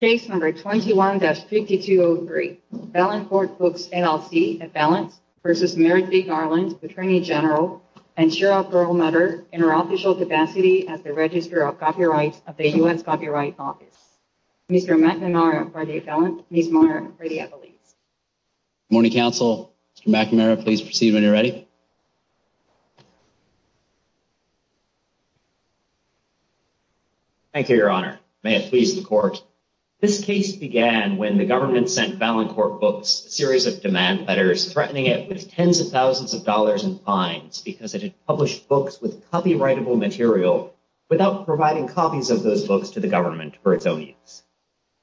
Case number 21-5203, Valancourt Books, LLC, at Valance versus Merrick V. Garland, Attorney General, and Cheryl Perlmutter, in her official capacity as the Registrar of Copyright of the U.S. Copyright Office. Mr. McNamara for the appellant, Ms. Marner for the appellate. Good morning, counsel. Mr. McNamara, please proceed when you're ready. Thank you, Your Honor. May it please the Court. This case began when the government sent Valancourt Books a series of demand letters threatening it with tens of thousands of dollars in fines because it had published books with copyrightable material without providing copies of those books to the government for its own use.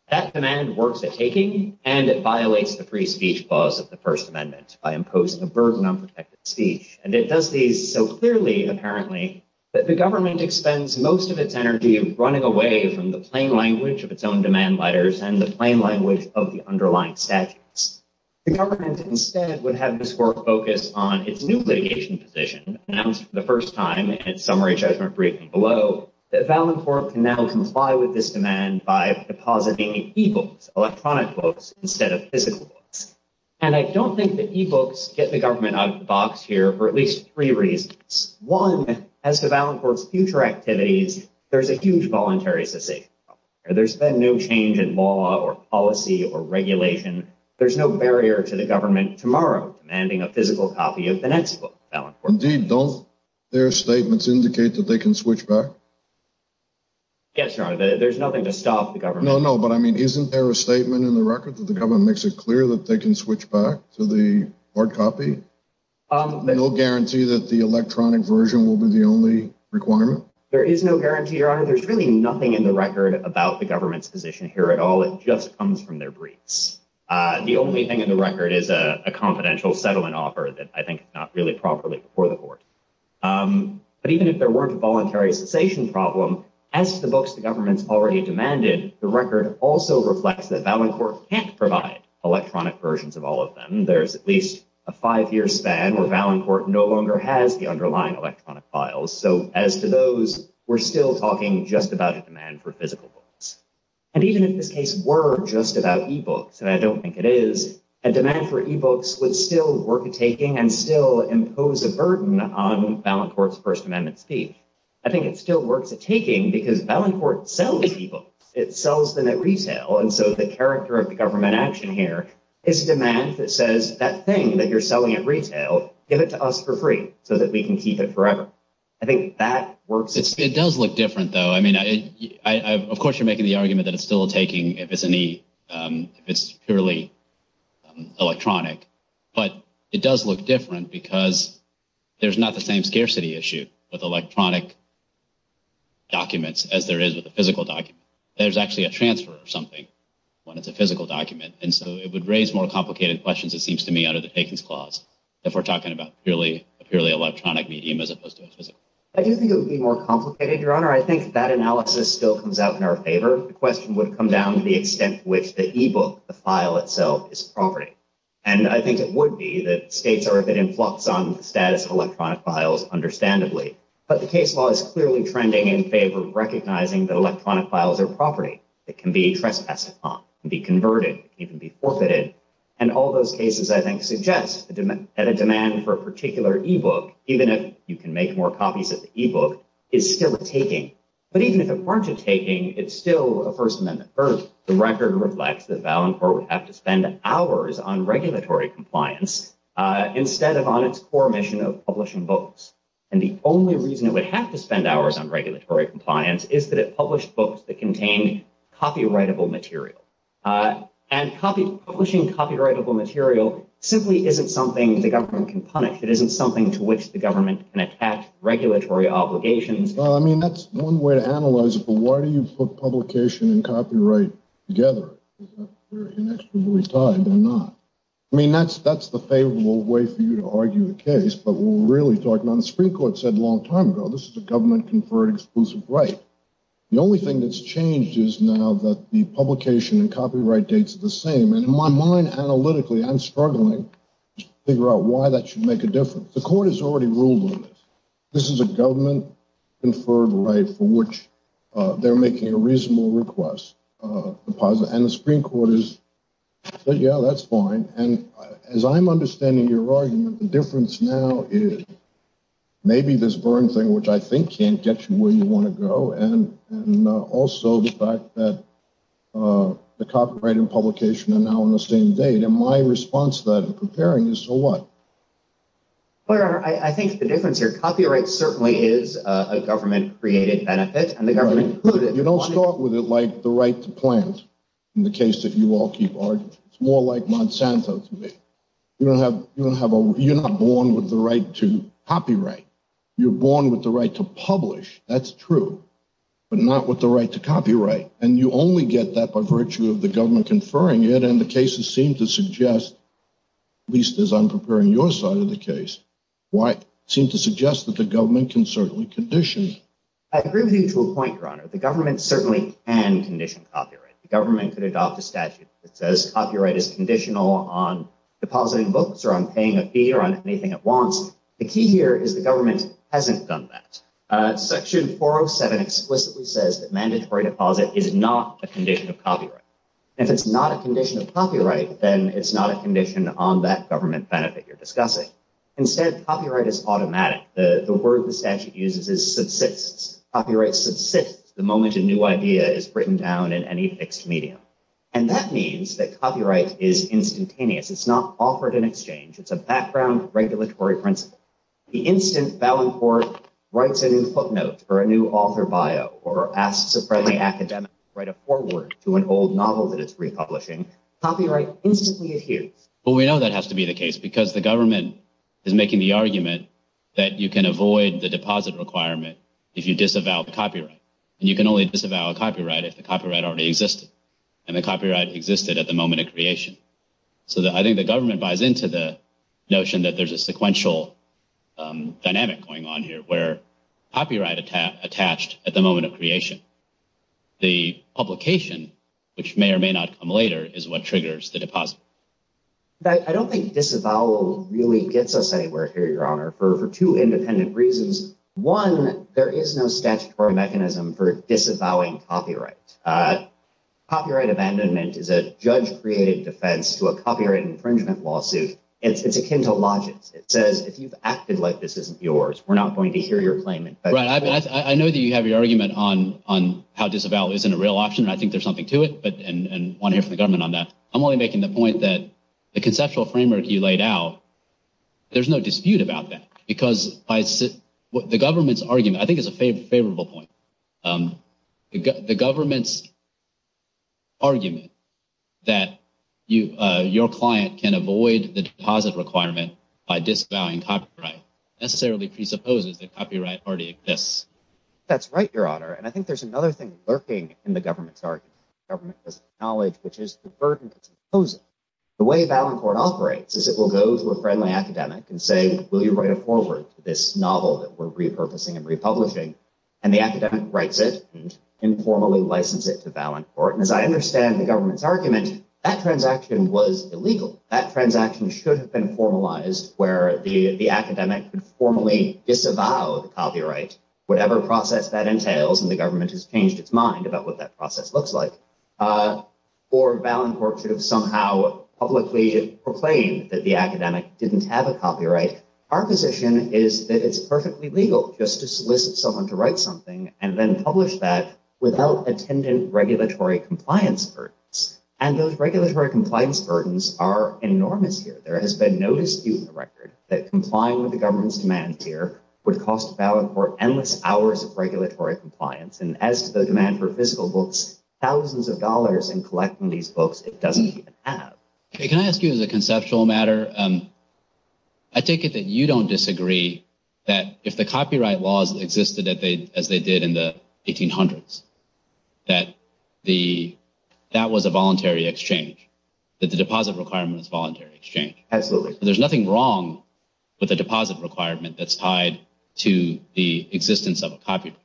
That demand works at taking and it violates the free speech laws of the First Amendment by imposing a burden on protected speech, and it does these so clearly, apparently, that the government expends most of its energy running away from the plain language of its own demand letters and the plain language of the underlying statutes. The government instead would have this Court focus on its new litigation position, announced for the first time in its summary judgment briefing below, that Valancourt can now comply with this demand by depositing e-books, electronic books, instead of physical books. And I don't think that e-books get the government out of the box here for at least three reasons. One, as to Valancourt's future activities, there's a huge voluntary cessation. There's been no change in law or policy or regulation. There's no barrier to the government tomorrow demanding a physical copy of the next book. Indeed, don't their statements indicate that they can switch back? Yes, Your Honor. There's nothing to stop the government. No, no, but I mean, isn't there a statement in the record that the government makes it clear that they can switch back to the hard copy? No guarantee that the electronic version will be the only requirement? There is no guarantee, Your Honor. There's really nothing in the record about the government's position here at all. It just comes from their briefs. The only thing in the record is a confidential settlement offer that I think is not really properly before the Court. But even if there weren't a voluntary cessation problem, as to the books the government's already demanded, the record also reflects that Valancourt can't provide electronic versions of all of them. There's at least a five-year span where Valancourt no longer has the underlying electronic files. So as to those, we're still talking just about a demand for physical books. And even if this case were just about e-books, and I don't think it is, a demand for e-books would still work a taking and still impose a burden on Valancourt's First Amendment speech. I think it still works a taking because Valancourt sells e-books. It sells them at retail. And so the character of the government action here is a demand that says, that thing that you're selling at retail, give it to us for free so that we can keep it forever. I think that works. It does look different, though. I mean, of course, you're making the argument that it's still a if it's purely electronic. But it does look different because there's not the same scarcity issue with electronic documents as there is with a physical document. There's actually a transfer or something when it's a physical document. And so it would raise more complicated questions, it seems to me, under the takings clause, if we're talking about a purely electronic medium as opposed to a physical. I do think it would be more complicated, Your Honor. I think that the extent to which the e-book, the file itself, is property. And I think it would be that states are a bit in flux on the status of electronic files, understandably. But the case law is clearly trending in favor of recognizing that electronic files are property. It can be trespassed upon, be converted, even be forfeited. And all those cases, I think, suggest that a demand for a particular e-book, even if you can make more copies of the e-book, is still a taking. But even if it weren't a taking, it's still a First Amendment verdict. The record reflects that Ballantyre would have to spend hours on regulatory compliance instead of on its core mission of publishing books. And the only reason it would have to spend hours on regulatory compliance is that it published books that contained copyrightable material. And publishing copyrightable material simply isn't something the government can punish. It isn't something to which government can attack regulatory obligations. Well, I mean, that's one way to analyze it. But why do you put publication and copyright together? They're inextricably tied, they're not. I mean, that's the favorable way for you to argue the case. But we're really talking about, the Supreme Court said a long time ago, this is a government-conferred exclusive right. The only thing that's changed is now that the publication and copyright dates are the same. And in my mind, analytically, I'm struggling to figure out why that should make a difference. The rule is, this is a government-conferred right for which they're making a reasonable request. And the Supreme Court has said, yeah, that's fine. And as I'm understanding your argument, the difference now is maybe this Vern thing, which I think can't get you where you want to go, and also the fact that the copyright and publication are now on the same date. And my response to that preparing is, so what? Well, Your Honor, I think the difference here, copyright certainly is a government-created benefit. You don't start with it like the right to plant, in the case that you all keep arguing. It's more like Monsanto to me. You're not born with the right to copyright. You're born with the right to publish. That's true. But not with the right to copyright. And you only get that by virtue of the government conferring it. And the cases seem to suggest at least as I'm preparing your side of the case, seem to suggest that the government can certainly condition. I agree with you to a point, Your Honor. The government certainly can condition copyright. The government could adopt a statute that says copyright is conditional on depositing books or on paying a fee or on anything it wants. The key here is the government hasn't done that. Section 407 explicitly says that mandatory deposit is not a condition of copyright. If it's not a condition of copyright, then it's not a condition on that government benefit you're discussing. Instead, copyright is automatic. The word the statute uses is subsists. Copyright subsists the moment a new idea is written down in any fixed medium. And that means that copyright is instantaneous. It's not offered in exchange. It's a background regulatory principle. The instant Ballantyre writes a new footnote or a new author bio or asks a friendly academic to forward to an old novel that it's republishing, copyright instantly adheres. Well, we know that has to be the case because the government is making the argument that you can avoid the deposit requirement if you disavow copyright. And you can only disavow copyright if the copyright already existed and the copyright existed at the moment of creation. So I think the government buys into the notion that there's a sequential dynamic going on here where copyright attached at the moment of creation. The publication, which may or may not come later, is what triggers the deposit. I don't think disavowal really gets us anywhere here, Your Honor, for two independent reasons. One, there is no statutory mechanism for disavowing copyright. Copyright abandonment is a judge-created defense to a copyright infringement lawsuit. It's akin to logics. It says if you've acted like this isn't yours, we're not going to hear your claim. Right. I know that you have your on how disavowal isn't a real option, and I think there's something to it, and I want to hear from the government on that. I'm only making the point that the conceptual framework you laid out, there's no dispute about that because the government's argument, I think is a favorable point. The government's argument that your client can avoid the deposit requirement by disavowing copyright necessarily presupposes that copyright already exists. That's right, Your Honor, and I think there's another thing lurking in the government's argument. Government doesn't acknowledge, which is the burden that's imposed. The way Valancourt operates is it will go to a friendly academic and say, will you write a foreword to this novel that we're repurposing and republishing, and the academic writes it and informally license it to Valancourt. As I understand the government's argument, that transaction was illegal. That transaction should have been formalized where the academic could formally disavow the copyright whatever process that entails, and the government has changed its mind about what that process looks like, or Valancourt should have somehow publicly proclaimed that the academic didn't have a copyright. Our position is that it's perfectly legal just to solicit someone to write something and then publish that without attendant regulatory compliance burdens, and those regulatory compliance burdens are enormous here. There has been no dispute in government's demand here would cost Valancourt endless hours of regulatory compliance, and as to the demand for physical books, thousands of dollars in collecting these books it doesn't even have. Can I ask you as a conceptual matter? I take it that you don't disagree that if the copyright laws existed as they did in the 1800s, that that was a voluntary exchange, that the deposit requirement is voluntary exchange. Absolutely. There's nothing wrong with a deposit requirement that's tied to the existence of a copyright.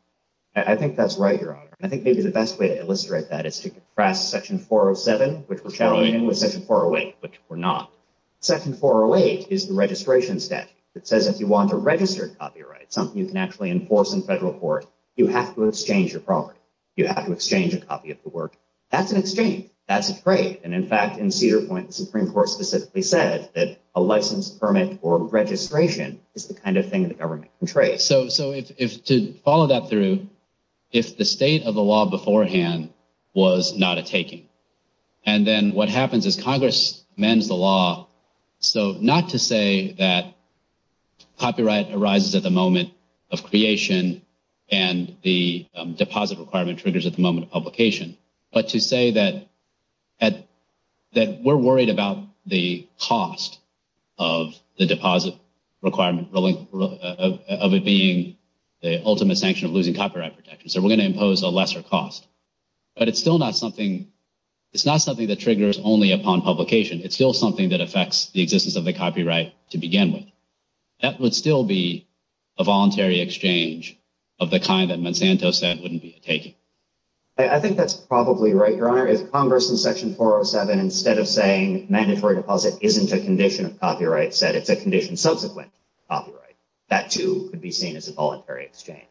I think that's right, Your Honor. I think maybe the best way to illustrate that is to contrast section 407, which we're challenging, with section 408, which we're not. Section 408 is the registration statute that says if you want to register a copyright, something you can actually enforce in federal court, you have to exchange your property. You have to exchange a copy of the work. That's an exchange. That's a trade, and in fact, in Cedar Point, the Supreme Court specifically said that a license permit or registration is the kind of thing the government can trade. So to follow that through, if the state of the law beforehand was not a taking, and then what happens is Congress amends the law, so not to say that copyright arises at the moment of creation, and the deposit requirement triggers at the moment of publication, but to say that we're worried about the cost of the deposit requirement, of it being the ultimate sanction of losing copyright protection. So we're going to impose a lesser cost. But it's still not something that triggers only upon publication. It's still something that affects the existence of the copyright to begin with. That would still be a voluntary exchange of the kind that Monsanto said wouldn't be a taking. I think that's probably right, Your Honor. If Congress in Section 407, instead of saying mandatory deposit isn't a condition of copyright, said it's a condition subsequent to copyright, that too could be seen as a voluntary exchange.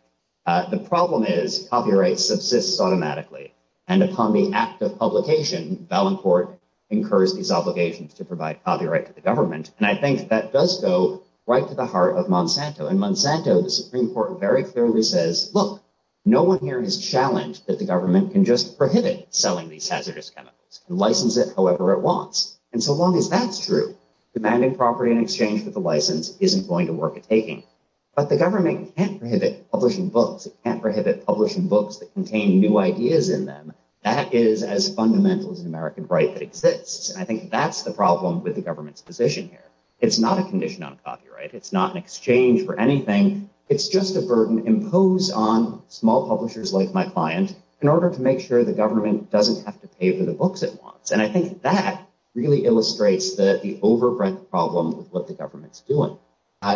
The problem is copyright subsists automatically, and upon the act of publication, Ballant Court incurs these obligations to provide copyright to the government, and I think that does go right to the heart of Monsanto. In Monsanto, the Supreme Court clearly says, look, no one here has challenged that the government can just prohibit selling these hazardous chemicals, can license it however it wants. And so long as that's true, demanding property in exchange for the license isn't going to work a taking. But the government can't prohibit publishing books. It can't prohibit publishing books that contain new ideas in them. That is as fundamental as an American right that exists, and I think that's the problem with the government's position here. It's not a condition on copyright. It's not an exchange for small publishers like my client, in order to make sure the government doesn't have to pay for the books it wants, and I think that really illustrates the overbreadth problem with what the government's doing,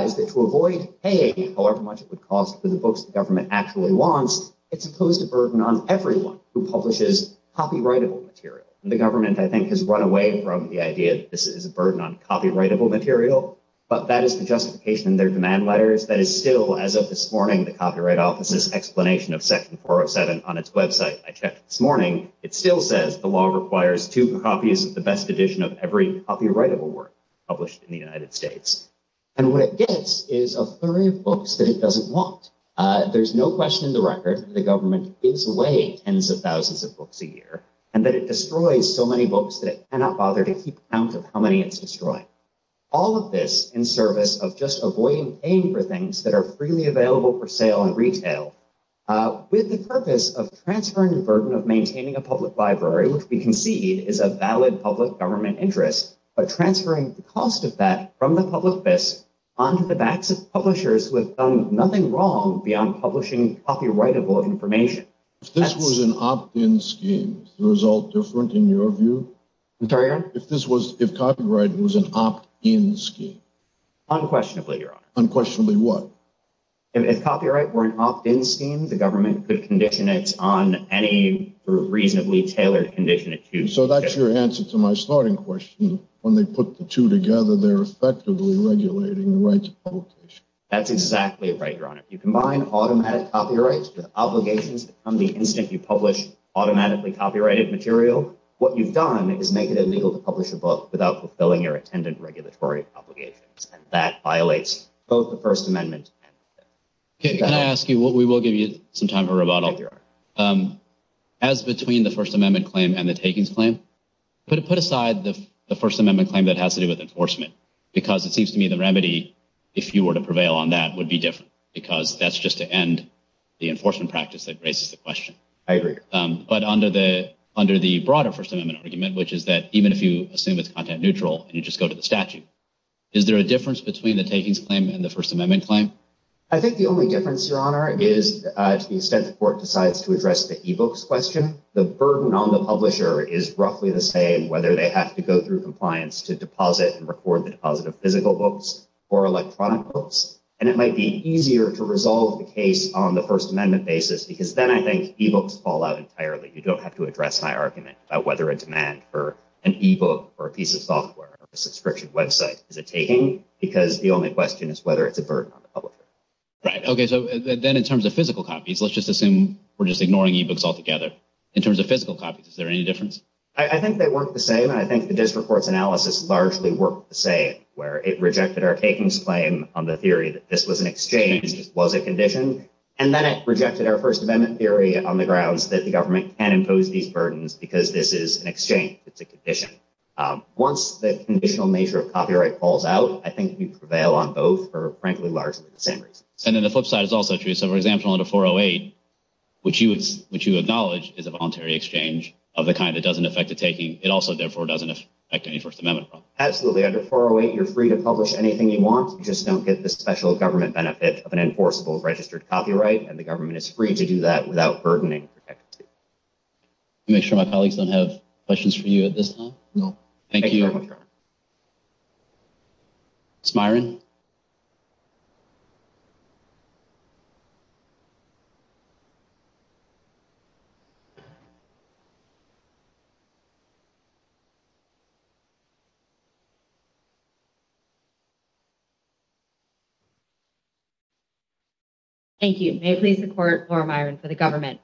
is that to avoid paying however much it would cost for the books the government actually wants, it's imposed a burden on everyone who publishes copyrightable material. The government, I think, has run away from the idea that this is a burden on copyrightable material, but that is the justification in their demand letters that is still, as of this morning, the Copyright Office's explanation of Section 407 on its website, I checked this morning, it still says the law requires two copies of the best edition of every copyrightable work published in the United States. And what it gets is a flurry of books that it doesn't want. There's no question in the record that the government is away tens of thousands of books a year, and that it destroys so many books that it cannot bother to keep count of how many it's in service of just avoiding paying for things that are freely available for sale in retail. With the purpose of transferring the burden of maintaining a public library, which we concede is a valid public government interest, but transferring the cost of that from the public onto the backs of publishers who have done nothing wrong beyond publishing copyrightable information. If this was an opt-in scheme, is the result different in your view? If this was, if copyright was an opt-in scheme? Unquestionably, Your Honor. Unquestionably what? If copyright were an opt-in scheme, the government could condition it on any reasonably tailored condition it chooses. So that's your answer to my starting question. When they put the two together, they're effectively regulating the rights of publication. That's exactly right, Your Honor. You combine automatic copyrights with obligations to become a public library. And so the instant you publish automatically copyrighted material, what you've done is make it illegal to publish a book without fulfilling your attendant regulatory obligations. And that violates both the First Amendment. Can I ask you, we will give you some time for rebuttal. As between the First Amendment claim and the takings claim, put aside the First Amendment claim that has to do with enforcement, because it seems to me the remedy, if you were to prevail on that, would be different. Because that's just to end the enforcement practice that raises the question. I agree. But under the broader First Amendment argument, which is that even if you assume it's content neutral and you just go to the statute, is there a difference between the takings claim and the First Amendment claim? I think the only difference, Your Honor, is to the extent the court decides to address the e-books question, the burden on the publisher is roughly the same, whether they have to go through compliance to deposit and record the electronic books. And it might be easier to resolve the case on the First Amendment basis, because then I think e-books fall out entirely. You don't have to address my argument about whether a demand for an e-book or a piece of software or a subscription website is a taking, because the only question is whether it's a burden on the publisher. Right. OK. So then in terms of physical copies, let's just assume we're just ignoring e-books altogether. In terms of physical copies, is there any difference? I think they work the same. And I think the district court's analysis largely worked the same, where it rejected our takings claim on the theory that this was an exchange, this was a condition, and then it rejected our First Amendment theory on the grounds that the government can impose these burdens because this is an exchange, it's a condition. Once the conditional nature of copyright falls out, I think we prevail on both for, frankly, largely the same reasons. And then the flip side is also true. So, for example, under 408, which you acknowledge is a voluntary exchange of the kind that doesn't affect the taking, it also, therefore, doesn't affect any First Amendment law. Absolutely. Under 408, you're free to publish anything you want. You just don't get the special government benefit of an enforceable registered copyright, and the government is free to do that without burdening or protecting you. Let me make sure my colleagues don't have questions for you at this time. No. Thank you. Thank you very much, Robert. Thank you. May it please the Court, Laura Myron, for the government.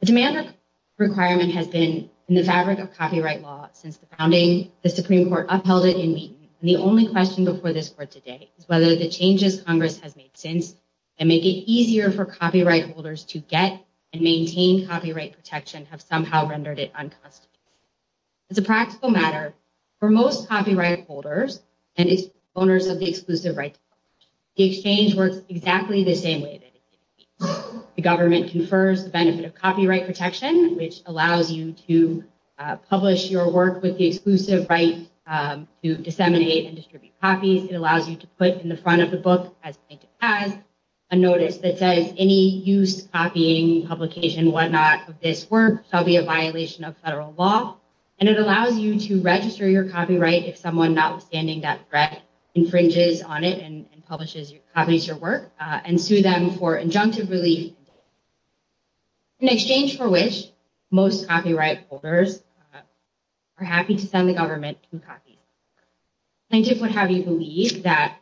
The demand requirement has been in the fabric of copyright law since the founding of the Supreme Court. The only question before this Court today is whether the changes Congress has made since and make it easier for copyright holders to get and maintain copyright protection have somehow rendered it unconstitutional. As a practical matter, for most copyright holders and owners of the exclusive right, the exchange works exactly the same way. The government confers the benefit of copyright protection, which allows you to publish your work with the exclusive right to disseminate and distribute copies. It allows you to put in the front of the book, as it has, a notice that says any use, copying, publication, whatnot of this work shall be a violation of federal law. And it allows you to register your copyright if someone notwithstanding that threat infringes on it and copies your work, and sue them for injunctive relief. In exchange for which, most copyright holders are happy to send the government to copy. I just would have you believe that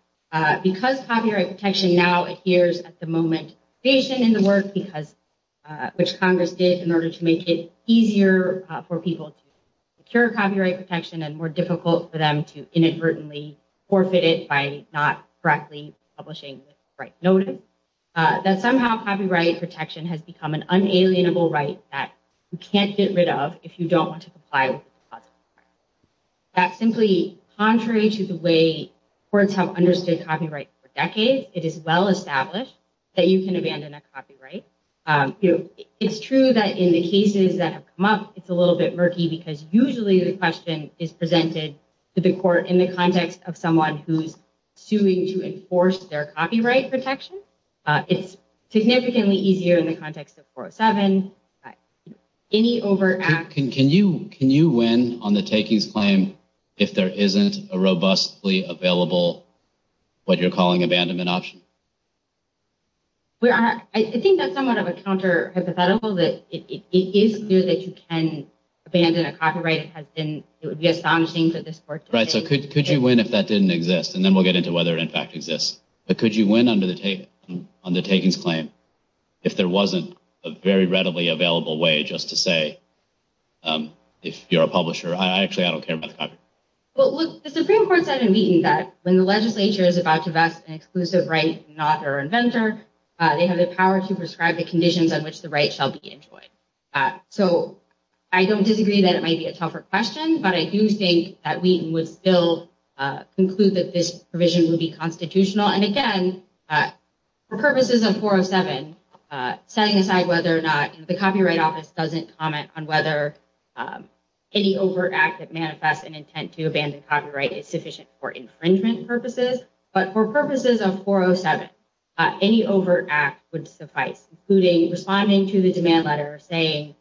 because copyright protection now adheres at the moment to the creation and the work, which Congress did in order to make it easier for people to secure copyright protection and more difficult for them to inadvertently forfeit it by not correctly publishing the right notice, that somehow copyright protection has become an unalienable right that you can't get rid of if you don't want to comply with the clause. That's simply contrary to the way courts have understood copyright for decades. It is well established that you can abandon a copyright. It's true that in the cases that have come up, it's a little bit murky because usually the question is presented to the court in the context of someone who's suing to enforce their copyright protection. It's significantly easier in the context of 407. Can you win on the takings claim if there isn't a robustly available, what you're calling abandonment option? I think that's somewhat of a counter-hypothetical that it is clear that you can abandon a copyright. It would be astonishing that this court... Could you win if that didn't exist? Then we'll get into whether it in fact exists. But could you win on the takings claim if there wasn't a very readily available way just to say if you're a publisher, I actually don't care about the copyright. Well, look, the Supreme Court said in Wheaton that when the legislature is about to vest an exclusive right, not their inventor, they have the power to prescribe the conditions on which the right shall be enjoyed. I don't disagree that it might be a tougher question, but I do think that Wheaton would still conclude that this provision would be constitutional. And again, for purposes of 407, setting aside whether or not the Copyright Office doesn't comment on whether any overt act that manifests an intent to abandon copyright is sufficient for infringement purposes, but for purposes of 407, any overt act would suffice, including responding to the demand letter saying,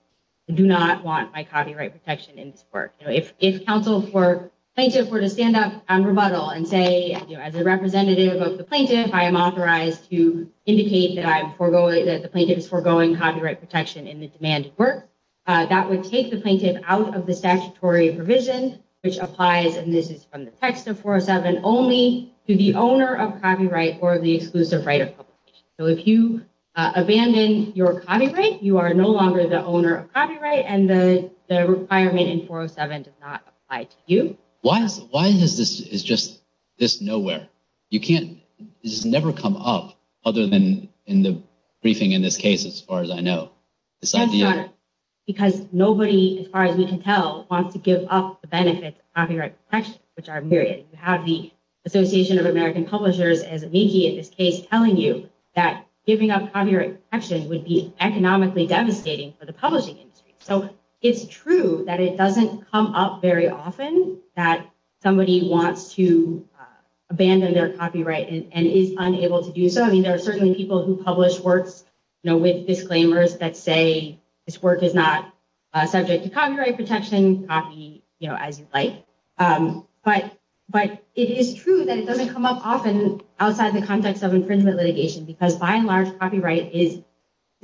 I do not want my copyright protection in this work. If counsel for plaintiff were to stand up and rebuttal and say, as a representative of the plaintiff, I am authorized to indicate that the plaintiff is foregoing copyright protection in the demand work, that would take the plaintiff out of the statutory provision, which applies, and this is from the text of 407, only to the owner of copyright or the exclusive right of publication. So if you are no longer the owner of copyright and the requirement in 407 does not apply to you. Why is this nowhere? This has never come up other than in the briefing in this case, as far as I know. Because nobody, as far as we can tell, wants to give up the benefits of copyright protection, which are myriad. You have the Association of American Publishers, as amici in this case, telling you that giving up copyright protection would be economically devastating for the publishing industry. So it's true that it doesn't come up very often that somebody wants to abandon their copyright and is unable to do so. I mean, there are certainly people who publish works, you know, with disclaimers that say this work is not subject to copyright protection, copy, you know, as you like. But it is true that it doesn't come up often outside the context of infringement litigation, because by and large, copyright is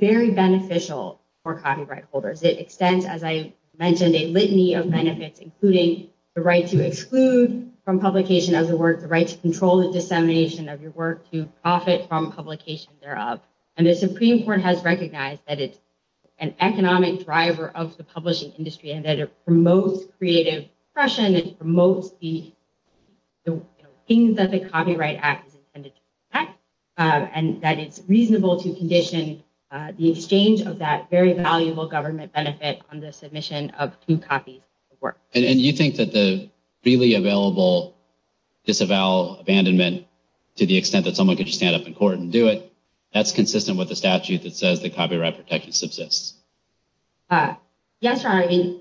very beneficial for copyright holders. It extends, as I mentioned, a litany of benefits, including the right to exclude from publication of the work, the right to control the dissemination of your work, to profit from publication thereof. And the Supreme Court has recognized that it's an economic driver of the most creative expression and promotes the things that the Copyright Act is intended to protect, and that it's reasonable to condition the exchange of that very valuable government benefit on the submission of two copies of work. And you think that the freely available disavowal, abandonment, to the extent that someone could just stand up in court and do it, that's consistent with the statute that says that copyright protection subsists? Yes, Your Honor, I mean,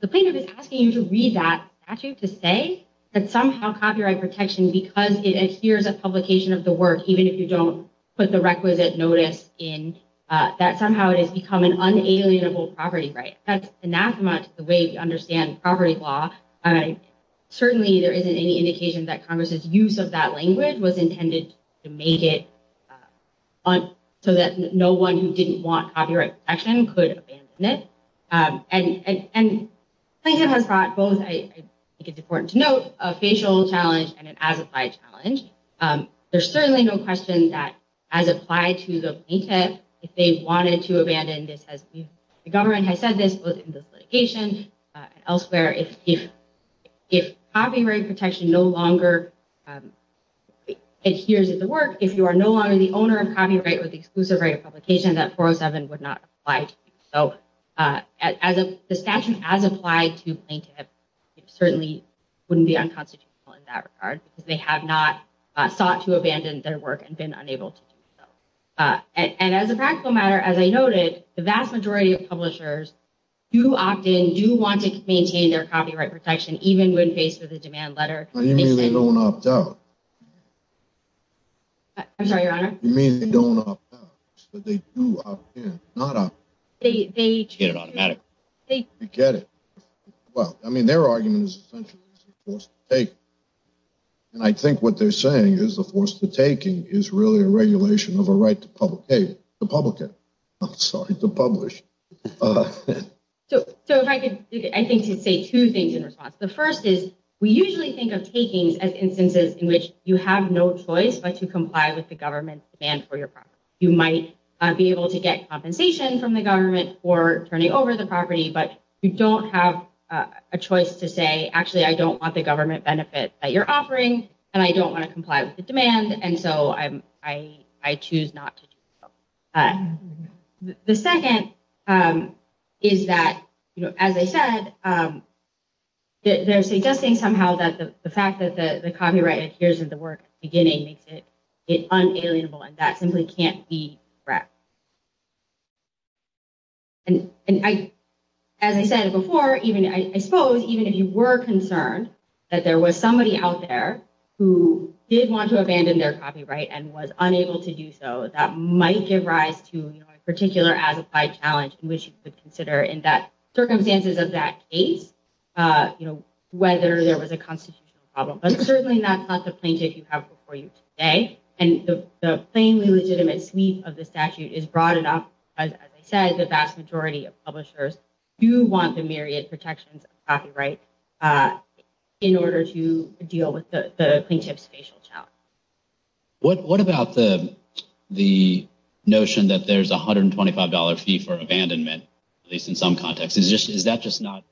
the plaintiff is asking you to read that statute to say that somehow copyright protection, because it adheres a publication of the work, even if you don't put the requisite notice in, that somehow it has become an unalienable property right. That's anathema to the way we understand property law. Certainly there isn't any indication that Congress's use of that language was intended to make it so that no one who didn't want copyright protection could abandon it. And the plaintiff has brought both, I think it's important to note, a facial challenge and an as-applied challenge. There's certainly no question that as applied to the plaintiff, if they wanted to abandon this, if the government has said this, both in this litigation and elsewhere, if copyright protection no longer adheres to the work, if you are no longer the owner of copyright with exclusive right of publication, that 407 would not apply. So as the statute as applied to plaintiff, it certainly wouldn't be unconstitutional in that regard, because they have not sought to abandon their work and been unable to do so. And as a practical matter, as I noted, the vast majority of publishers do opt in, do want to maintain their copyright protection, even when faced with a demand letter. You mean they don't opt out? I'm sorry, Your Honor? You mean they don't opt out, but they do opt in, not out. They get it automatically. They get it. Well, I mean, their argument is essentially it's a force to take. And I think what they're saying is the force to taking is really a regulation of a right to publish. So if I could, I think to say two things in response. The first is we usually think of takings as instances in which you have no choice but to comply with the government's demand for your property. You might be able to get compensation from the government for turning over the property, but you don't have a choice to say, actually, I don't want the government benefit that you're offering, and I don't want to comply with the demand, and so I choose not to do so. But the second is that, as I said, they're suggesting somehow that the fact that the copyright adheres to the work beginning makes it unalienable, and that simply can't be correct. And as I said before, I suppose even if you were concerned that there was somebody out there who did want to abandon their copyright and was unable to do so, that might give rise to a particular as-applied challenge in which you could consider in that circumstances of that case, whether there was a constitutional problem. But certainly, that's not the plaintiff you have before you today. And the plainly legitimate sweep of the statute is broad enough, as I said, the vast majority of publishers do want the myriad protections of copyright in order to deal with the plaintiff's facial challenge. What about the notion that there's a $125 fee for abandonment, at least in some contexts? Is that just not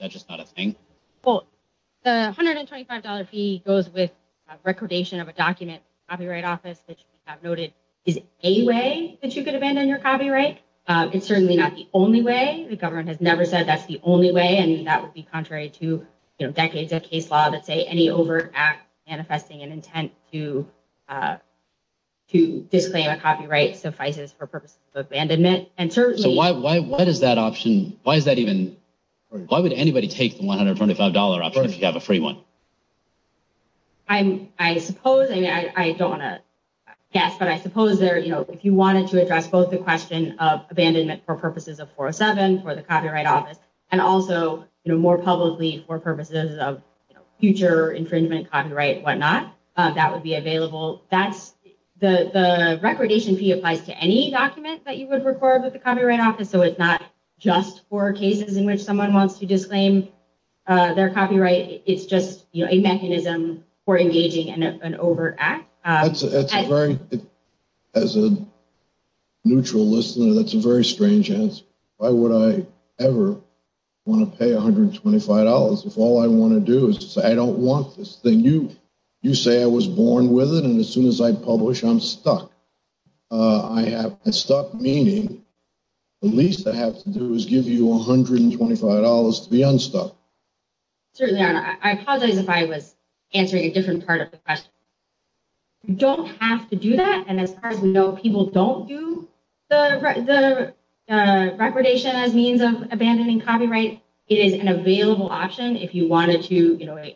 a thing? Well, the $125 fee goes with a recordation of a document in the Copyright Office that you have noted. Is it a way that you could abandon your copyright? It's certainly not the only way. The government has never said that's the only way, and that would be contrary to decades of case law that say any overt act manifesting an intent to disclaim a copyright suffices for purposes of abandonment. And certainly... So why does that option... Why would anybody take the $125 option if you have a free one? I don't want to guess, but I suppose if you wanted to address both the question of abandonment for purposes of 407, for the Copyright Office, and also more publicly for purposes of future infringement copyright and whatnot, that would be available. The recordation fee applies to any document that you would record with the Copyright Office, so it's not just for cases in which someone wants to disclaim their copyright. It's just a mechanism for engaging in an overt act. As a neutral listener, that's a very strange answer. Why would I ever want to pay $125 if all I want to do is to say I don't want this thing? You say I was born with it, and as soon as I publish, I'm stuck. I'm stuck, meaning the least I have to do is give you $125 to be unstuck. Certainly not. I apologize if I was answering a different part of the question. You don't have to do that, and as far as we know, people don't do the recordation as means of abandonment. If you wanted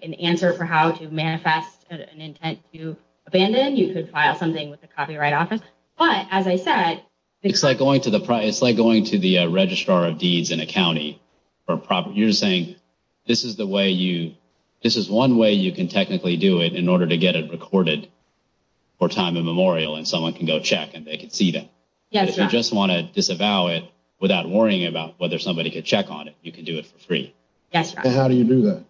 an answer for how to manifest an intent to abandon, you could file something with the Copyright Office, but as I said, it's like going to the registrar of deeds in a county. You're saying this is one way you can technically do it in order to get it recorded for time immemorial, and someone can go check, and they can see them. Yes. If you just want to disavow it without worrying about whether somebody could check on it, you can do it for free. How do you do that?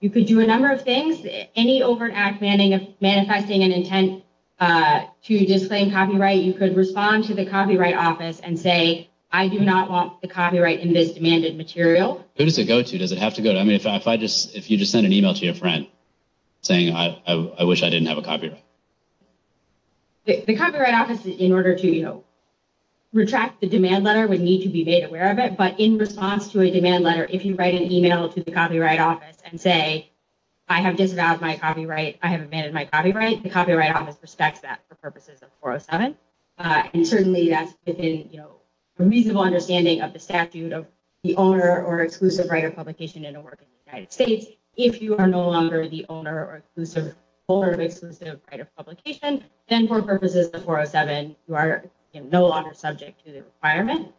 You could do a number of things. Any overt act manifesting an intent to disclaim copyright, you could respond to the Copyright Office and say I do not want the copyright in this demanded material. Who does it go to? Does it have to go to? If you just send an email to your friend saying I wish I didn't have a copyright. The Copyright Office, in order to retract the demand letter, would need to be made aware of it, but in response to a demand letter, if you write an email to the Copyright Office and say I have disavowed my copyright, I have abandoned my copyright, the Copyright Office respects that for purposes of 407, and certainly that's within reasonable understanding of the statute of the owner or exclusive right of publication in a work in the United States. If you are no longer the owner or exclusive holder of exclusive right of publication, then for purposes of 407, you are no longer subject to the requirement.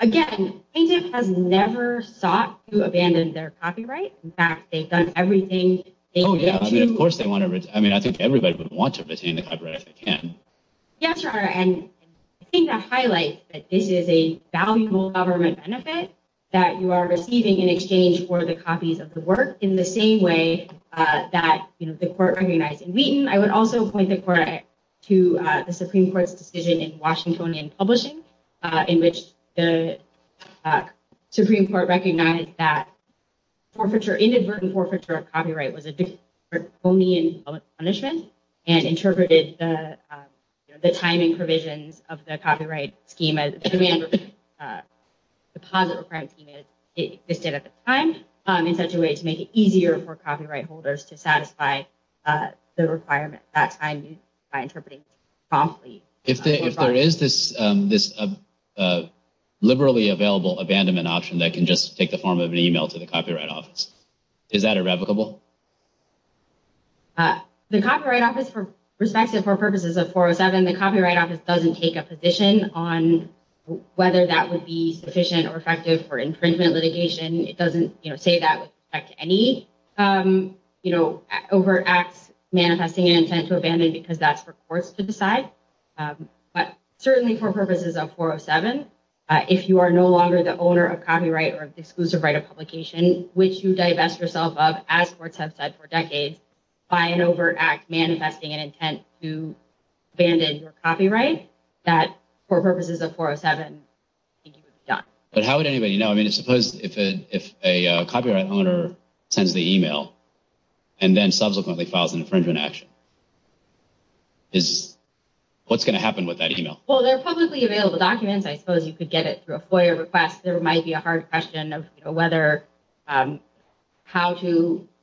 Again, a painter has never sought to abandon their copyright. In fact, they've done everything. Of course they want to. I mean, I think everybody would want to retain the copyright if they can. Yes, Your Honor, and I think that highlights that this is a valuable government benefit that you are receiving in exchange for the copies of the work in the same way that the court recognized in Wheaton. I would also point the court to the Supreme Court's decision in Washingtonian Publishing in which the Supreme Court recognized that forfeiture, inadvertent forfeiture of copyright was a different punishment and interpreted the timing provisions of the copyright scheme as the positive crime scheme existed at the time in such a way to make it easier for copyright holders to satisfy the requirement by interpreting promptly. If there is this liberally available abandonment option that can just take the form of an email to the Copyright Office, is that irrevocable? The Copyright Office, for purposes of 407, the Copyright Office doesn't take a position on whether that would be sufficient or effective for infringement litigation. It doesn't say that any overt acts manifesting an intent to abandon because that's for courts to decide, but certainly for purposes of 407, if you are no longer the owner of copyright or the exclusive right of publication, which you divest yourself of, as courts have said for decades, by an overt act manifesting an intent to abandon your copyright, that for purposes of 407, I think it would be sufficient. If someone is the owner and sends the email and then subsequently files an infringement action, what's going to happen with that email? Well, they're publicly available documents. I suppose you could get it through a FOIA request. There might be a hard question of whether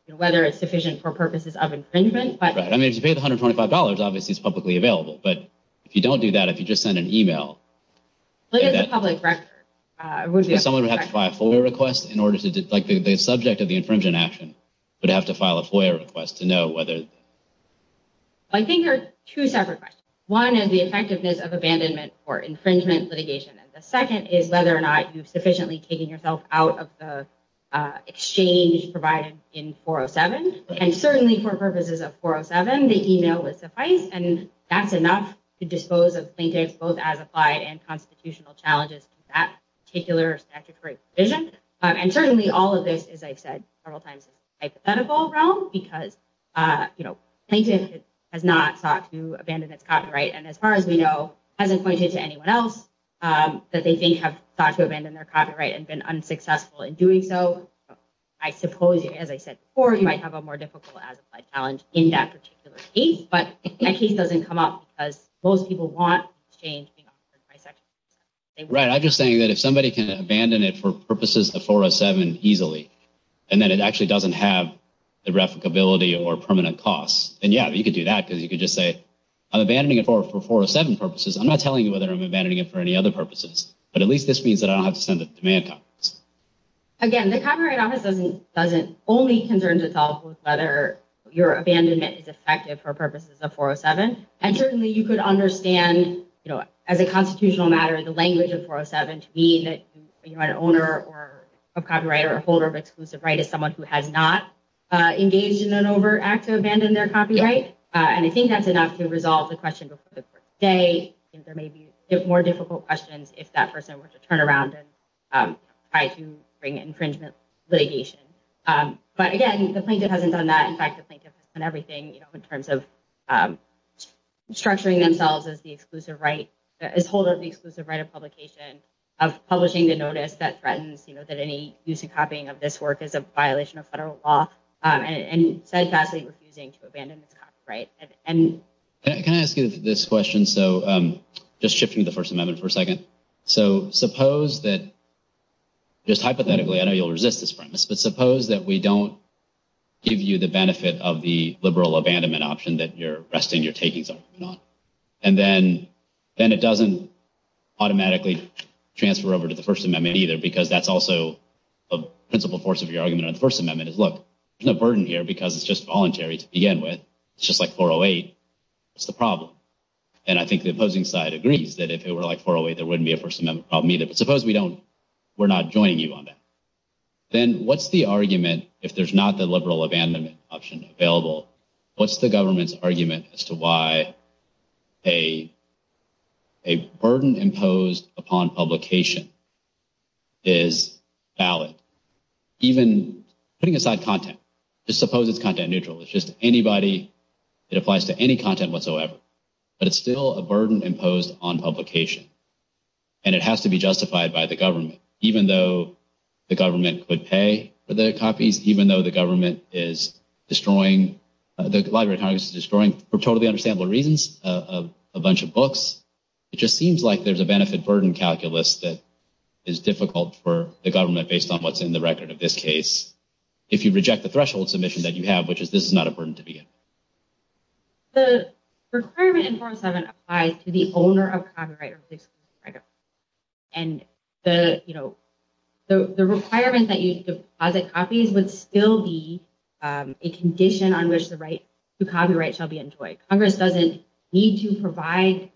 it's sufficient for purposes of infringement. Right. I mean, if you paid $125, obviously, it's publicly available, but if you don't do that, if you just send an email... But it's a public record. Someone would have to file a FOIA request in order to... The subject of the infringement action would have to file a FOIA request to know whether... I think there are two separate questions. One is the effectiveness of abandonment or infringement litigation, and the second is whether or not you've sufficiently taken yourself out of the exchange provided in 407. And certainly for purposes of 407, the email would suffice, and that's enough to dispose of plaintiffs, both as applied and several times in the hypothetical realm, because plaintiff has not sought to abandon its copyright and, as far as we know, hasn't pointed to anyone else that they think have sought to abandon their copyright and been unsuccessful in doing so. I suppose, as I said before, you might have a more difficult as-applied challenge in that particular case, but that case doesn't come up because most people want an exchange being offered by Section 407. Right. I'm just saying that if somebody can easily, and then it actually doesn't have the replicability or permanent costs, then, yeah, you could do that because you could just say, I'm abandoning it for 407 purposes. I'm not telling you whether I'm abandoning it for any other purposes, but at least this means that I don't have to send a demand copy. Again, the Copyright Office doesn't only concern itself with whether your abandonment is effective for purposes of 407, and certainly you could understand, as a constitutional matter, the language of 407 to mean that an owner of copyright or a holder of exclusive right is someone who has not engaged in an overact to abandon their copyright, and I think that's enough to resolve the question before the court today. There may be more difficult questions if that person were to turn around and try to bring infringement litigation. But again, the plaintiff hasn't done that. In fact, the plaintiff has done everything in terms of his hold of the exclusive right of publication, of publishing the notice that threatens that any use of copying of this work is a violation of federal law, and steadfastly refusing to abandon its copyright. Can I ask you this question? So just shifting to the First Amendment for a second. So suppose that, just hypothetically, I know you'll resist this premise, but suppose that we don't give you the benefit of the liberal abandonment option that you're resting your copyright on, and then it doesn't automatically transfer over to the First Amendment either, because that's also a principal force of your argument on the First Amendment is, look, there's no burden here because it's just voluntary to begin with. It's just like 408. What's the problem? And I think the opposing side agrees that if it were like 408, there wouldn't be a First Amendment problem either. But suppose we don't, we're not joining you on that. Then what's the argument, if there's not the liberal abandonment option available, what's the government's argument as to why a burden imposed upon publication is valid? Even putting aside content, just suppose it's content neutral. It's just anybody, it applies to any content whatsoever, but it's still a burden imposed on publication. And it has to be justified by the government, even though the government could pay for the copies, even though the government is destroying, the Library of Congress is destroying, for totally understandable reasons, a bunch of books. It just seems like there's a benefit burden calculus that is difficult for the government based on what's in the record of this case. If you reject the threshold submission that you have, which is this is not a burden to begin. The requirement in 407 applies to the owner of copyright, and the requirement that you deposit copies would still be a condition on which the copyright shall be enjoyed. Congress doesn't need to provide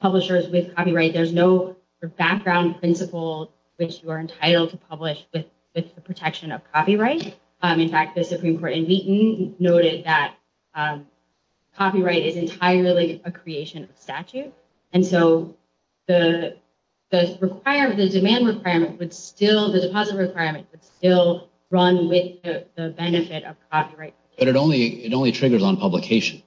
publishers with copyright. There's no background principle which you are entitled to publish with the protection of copyright. In fact, the Supreme Court in Wheaton noted that copyright is entirely a creation of statute. And so the demand requirement would still, the deposit requirement would still run with the benefit of copyright. But it only triggers on publication.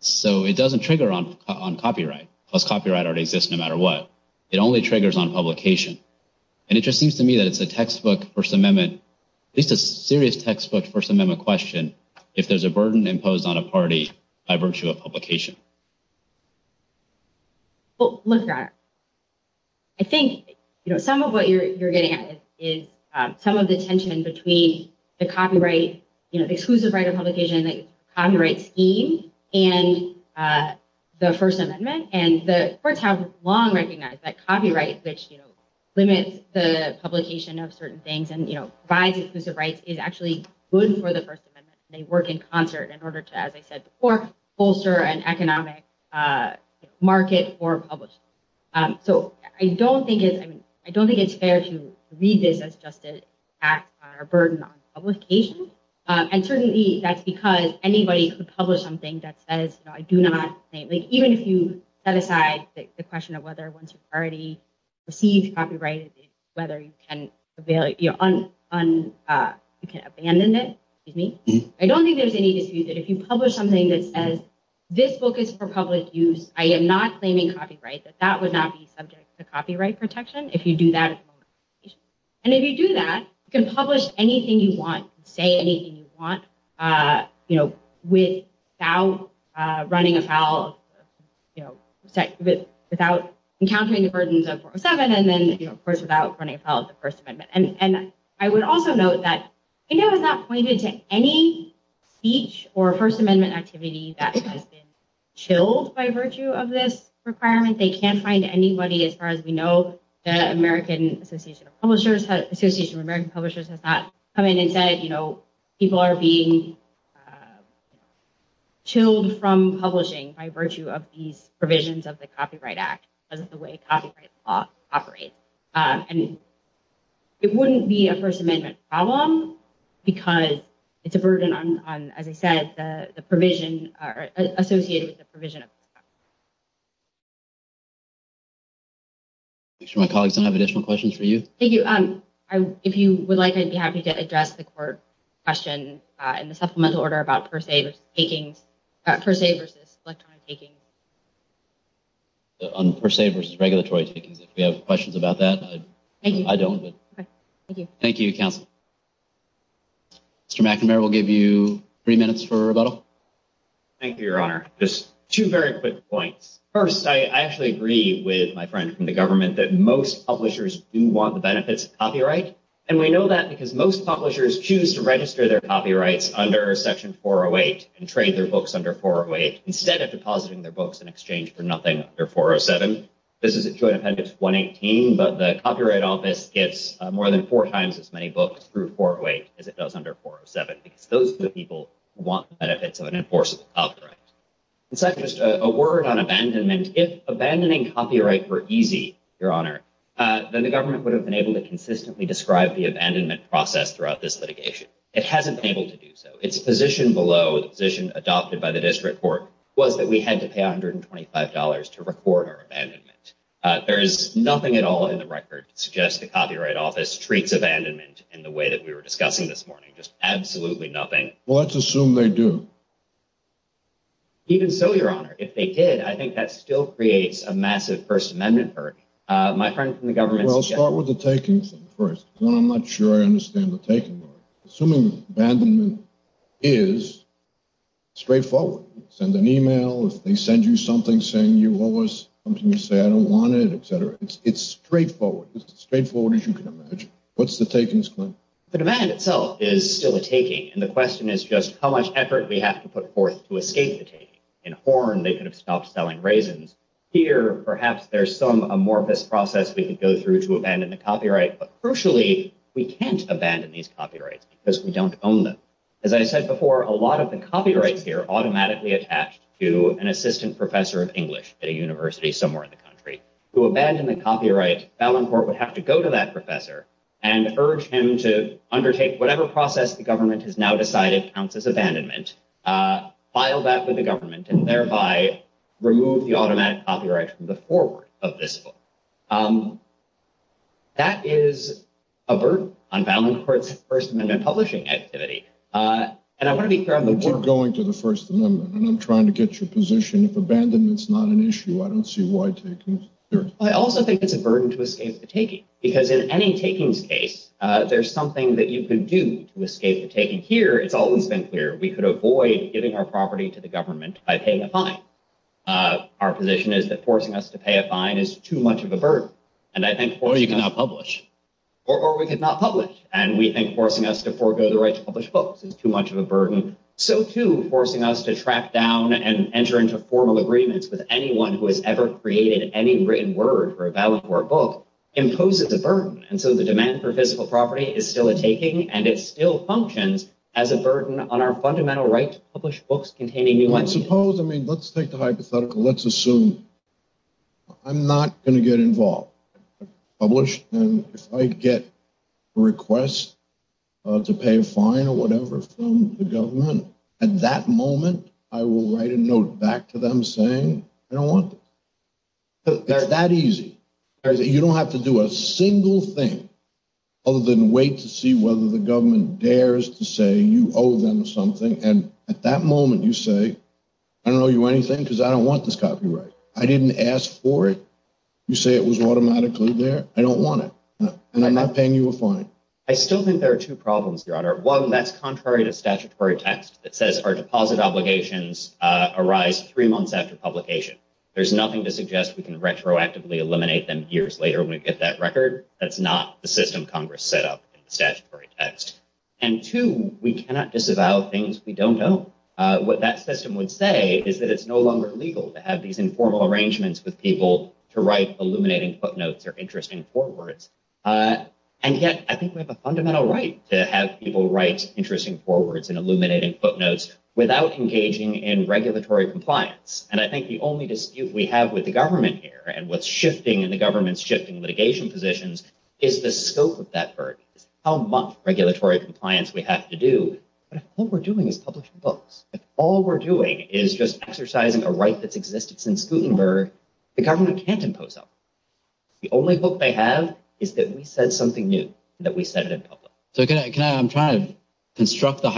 So it doesn't trigger on copyright, because copyright already exists no matter what. It only triggers on publication. And it just seems to me that it's a textbook First Amendment, at least a serious textbook First Amendment question, if there's a burden imposed on a party by virtue of publication. Well, look, I think, you know, some of what you're getting at is some of the tension between the copyright, you know, the exclusive right of publication, the copyright scheme, and the First Amendment. And the courts have long recognized that copyright, which, you know, limits the publication of certain things and, you know, provides exclusive rights is actually good for the First Amendment. They work in concert in order to, as I said before, bolster an economic market for publishing. So I don't think it's, I mean, I don't think it's fair to read this as just an act or a burden on publication. And certainly that's because anybody could publish something that says, you know, I do not, like, even if you set aside the question of whether once you've received copyright, whether you can abandon it, excuse me, I don't think there's any dispute that if you publish something that says, this book is for public use, I am not claiming copyright, that that would not be subject to copyright protection if you do that. And if you do that, you can publish anything you want, say anything you want, you know, without running afoul, you know, without encountering the burdens of 407, and then, you know, of course, without running afoul of the First Amendment. And I would also note that, you know, it's not pointed to any speech or First Amendment activity that has been chilled by virtue of this requirement. They can't find anybody, as far as we know, the American Association of Publishers, Association of American Publishers has not come in and said, you know, people are being you know, chilled from publishing by virtue of these provisions of the Copyright Act, because of the way copyright law operates. And it wouldn't be a First Amendment problem, because it's a burden on, as I said, the provision associated with the provision. Make sure my colleagues don't have additional questions for you. Thank you. If you would like, I'd be happy to address the court question in the supplemental order about per se versus electronic takings. On per se versus regulatory takings, if we have questions about that, I don't. Thank you, counsel. Mr. McNamara, we'll give you three minutes for rebuttal. Thank you, Your Honor. Just two very quick points. First, I actually agree with my friend from the government that most publishers do want the benefits of copyright. And we know that because most publishers choose to register their copyrights under Section 408 and trade their books under 408 instead of depositing their books in exchange for nothing under 407. This is a Joint Appendix 118, but the Copyright Office gets more than four times as many books through 408 as it does under 407, because those are the people who want the benefits of an enforceable copyright. And second, just a word on abandonment. If abandoning copyright were easy, Your Honor, then the government would have been able to consistently describe the abandonment process throughout this litigation. It hasn't been able to do so. Its position below, the position adopted by the district court, was that we had to pay $125 to record our abandonment. There is nothing at all in the record that suggests the Copyright Office treats abandonment in the way that we were discussing this morning. Just absolutely nothing. Well, let's assume they do. Even so, Your Honor, if they did, I think that still creates a massive First Amendment burden. My friend from the government... Well, start with the taking thing first. One, I'm not sure I understand the taking. Assuming abandonment is straightforward. Send an email. If they send you something saying you owe us something, you say, I don't want it, etc. It's straightforward. It's as straightforward as you can imagine. What's the takings claim? The demand itself is still a taking, and the question is just how much effort we have to put forth to escape the taking. In Horn, they could have stopped selling raisins. Here, perhaps there's some amorphous process we could go through to abandon the copyright. But crucially, we can't abandon these copyrights because we don't own them. As I said before, a lot of the copyrights here are automatically attached to an assistant professor of English at a university somewhere in the country. To abandon the copyright, Ballinport would have to go to that professor and urge him to undertake whatever process the government has now decided counts as abandonment, file that with the government, and thereby remove the automatic copyright from the forward of this book. That is a burden on Ballinport's First Amendment publishing activity. We're going to the First Amendment, and I'm trying to get your position. If abandonment's not an issue, I don't see why taking is. I also think it's a burden to escape the taking, because in any takings case, there's something that you can do to escape the taking. Here, it's always been clear we could avoid giving our property to the government by paying a fine. Our position is that forcing us to pay a fine is too much of a burden. Or you cannot publish. Or we could not publish. We think forcing us to forego the right to publish books is too much of a burden. So too, forcing us to track down and enter into formal agreements with anyone who has ever created any written word for a Ballinport book imposes a burden. The demand for physical property is still a taking, and it still functions as a burden on our fundamental right to publish books containing new language. Let's take the hypothetical. Let's assume I'm not going to get involved. If I get a request to pay a fine or whatever from the government, at that moment, I will write a note back to them saying I don't want this. It's that thing other than wait to see whether the government dares to say you owe them something. And at that moment, you say, I don't owe you anything because I don't want this copyright. I didn't ask for it. You say it was automatically there. I don't want it. And I'm not paying you a fine. I still think there are two problems, Your Honor. One, that's contrary to statutory text that says our deposit obligations arise three months after publication. There's nothing to suggest we can retroactively eliminate them years later when we get that record. That's not the system Congress set up in the statutory text. And two, we cannot disavow things we don't know. What that system would say is that it's no longer legal to have these informal arrangements with people to write illuminating footnotes or interesting forewords. And yet, I think we have a fundamental right to have people write interesting forewords and illuminating footnotes without engaging in regulatory compliance. And I think the only dispute we have with the government here and what's shifting in the government's shifting litigation positions is the scope of that verdict, how much regulatory compliance we have to do. But if all we're doing is publishing books, if all we're doing is just exercising a right that's existed since Gutenberg, the government can't impose on us. The only hope they have is that we said something new, that we said it in public. So can I, I'm trying to construct the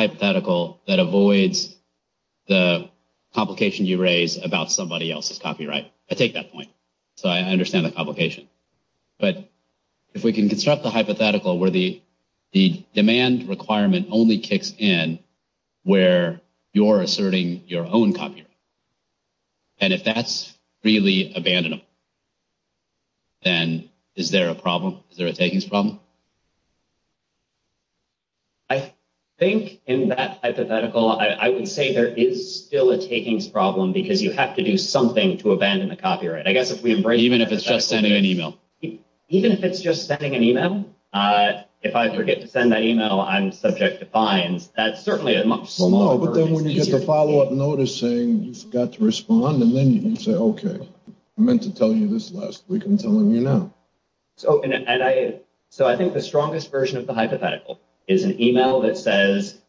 copyright. I take that point. So I understand the complication. But if we can construct the hypothetical where the demand requirement only kicks in where you're asserting your own copyright. And if that's really abandonable, then is there a problem? Is there a takings problem? I think in that hypothetical, I would say there is still a takings problem because you have to something to abandon the copyright. I guess if we embrace it, even if it's just sending an email, even if it's just sending an email, if I forget to send that email, I'm subject to fines. That's certainly a much smaller, but then when you get the follow-up notice saying you forgot to respond and then you can say, okay, I meant to tell you this last week, I'm telling you now. So, and I, so I think the strongest version of the hypothetical is an email that says,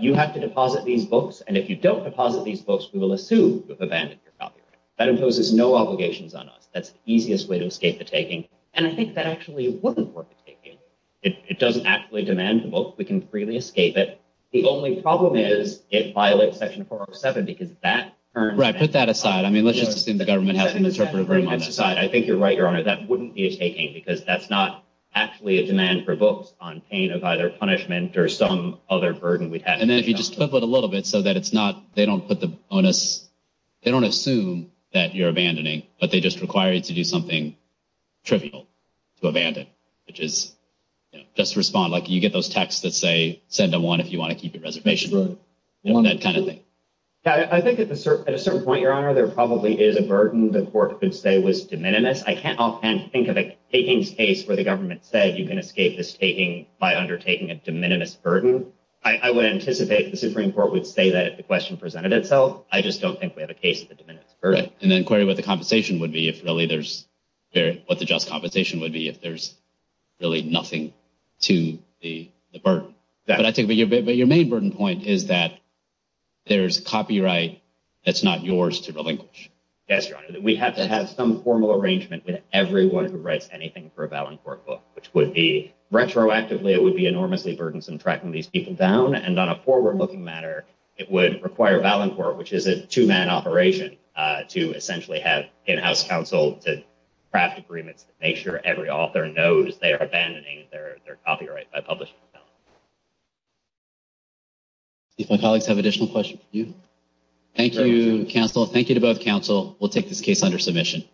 you have to deposit these books. And if you don't deposit these books, we will assume you've abandoned your copyright. That imposes no obligations on us. That's the easiest way to escape the taking. And I think that actually wouldn't work. It doesn't actually demand the book. We can freely escape it. The only problem is it violates section 407 because that. Right. Put that aside. I mean, let's just assume the government hasn't interpreted very much. I think you're right. Your honor, that wouldn't be a taking because that's not actually a demand for books on pain of either punishment or some other burden we'd have. And then if you just flip it a little bit so that it's not, they don't put the bonus, they don't assume that you're abandoning, but they just require you to do something trivial to abandon, which is just respond. Like you get those texts that say, send them one, if you want to keep your reservation, that kind of thing. Yeah. I think at a certain point, your honor, there probably is a burden the court could say was de minimis. I can't offhand think of a taking space where the government said you can escape this taking by undertaking a de minimis burden. I would anticipate the Supreme Court would say that the question presented itself. I just don't think we have a case of the de minimis burden. And then query what the compensation would be if really there's what the just compensation would be if there's really nothing to the burden. But I think your main burden point is that there's copyright that's not yours to relinquish. Yes, your honor. We have to have some formal arrangement with everyone who writes anything for a Ballantyre book, which would be retroactively, it would be enormously burdensome tracking these people down. And on a forward looking matter, it would require Ballantyre, which is a two man operation to essentially have in-house counsel to craft agreements to make sure every author knows they are abandoning their copyright by publishing. If my colleagues have additional questions for you. Thank you, counsel. Thank you to both counsel. We'll take this case under submission.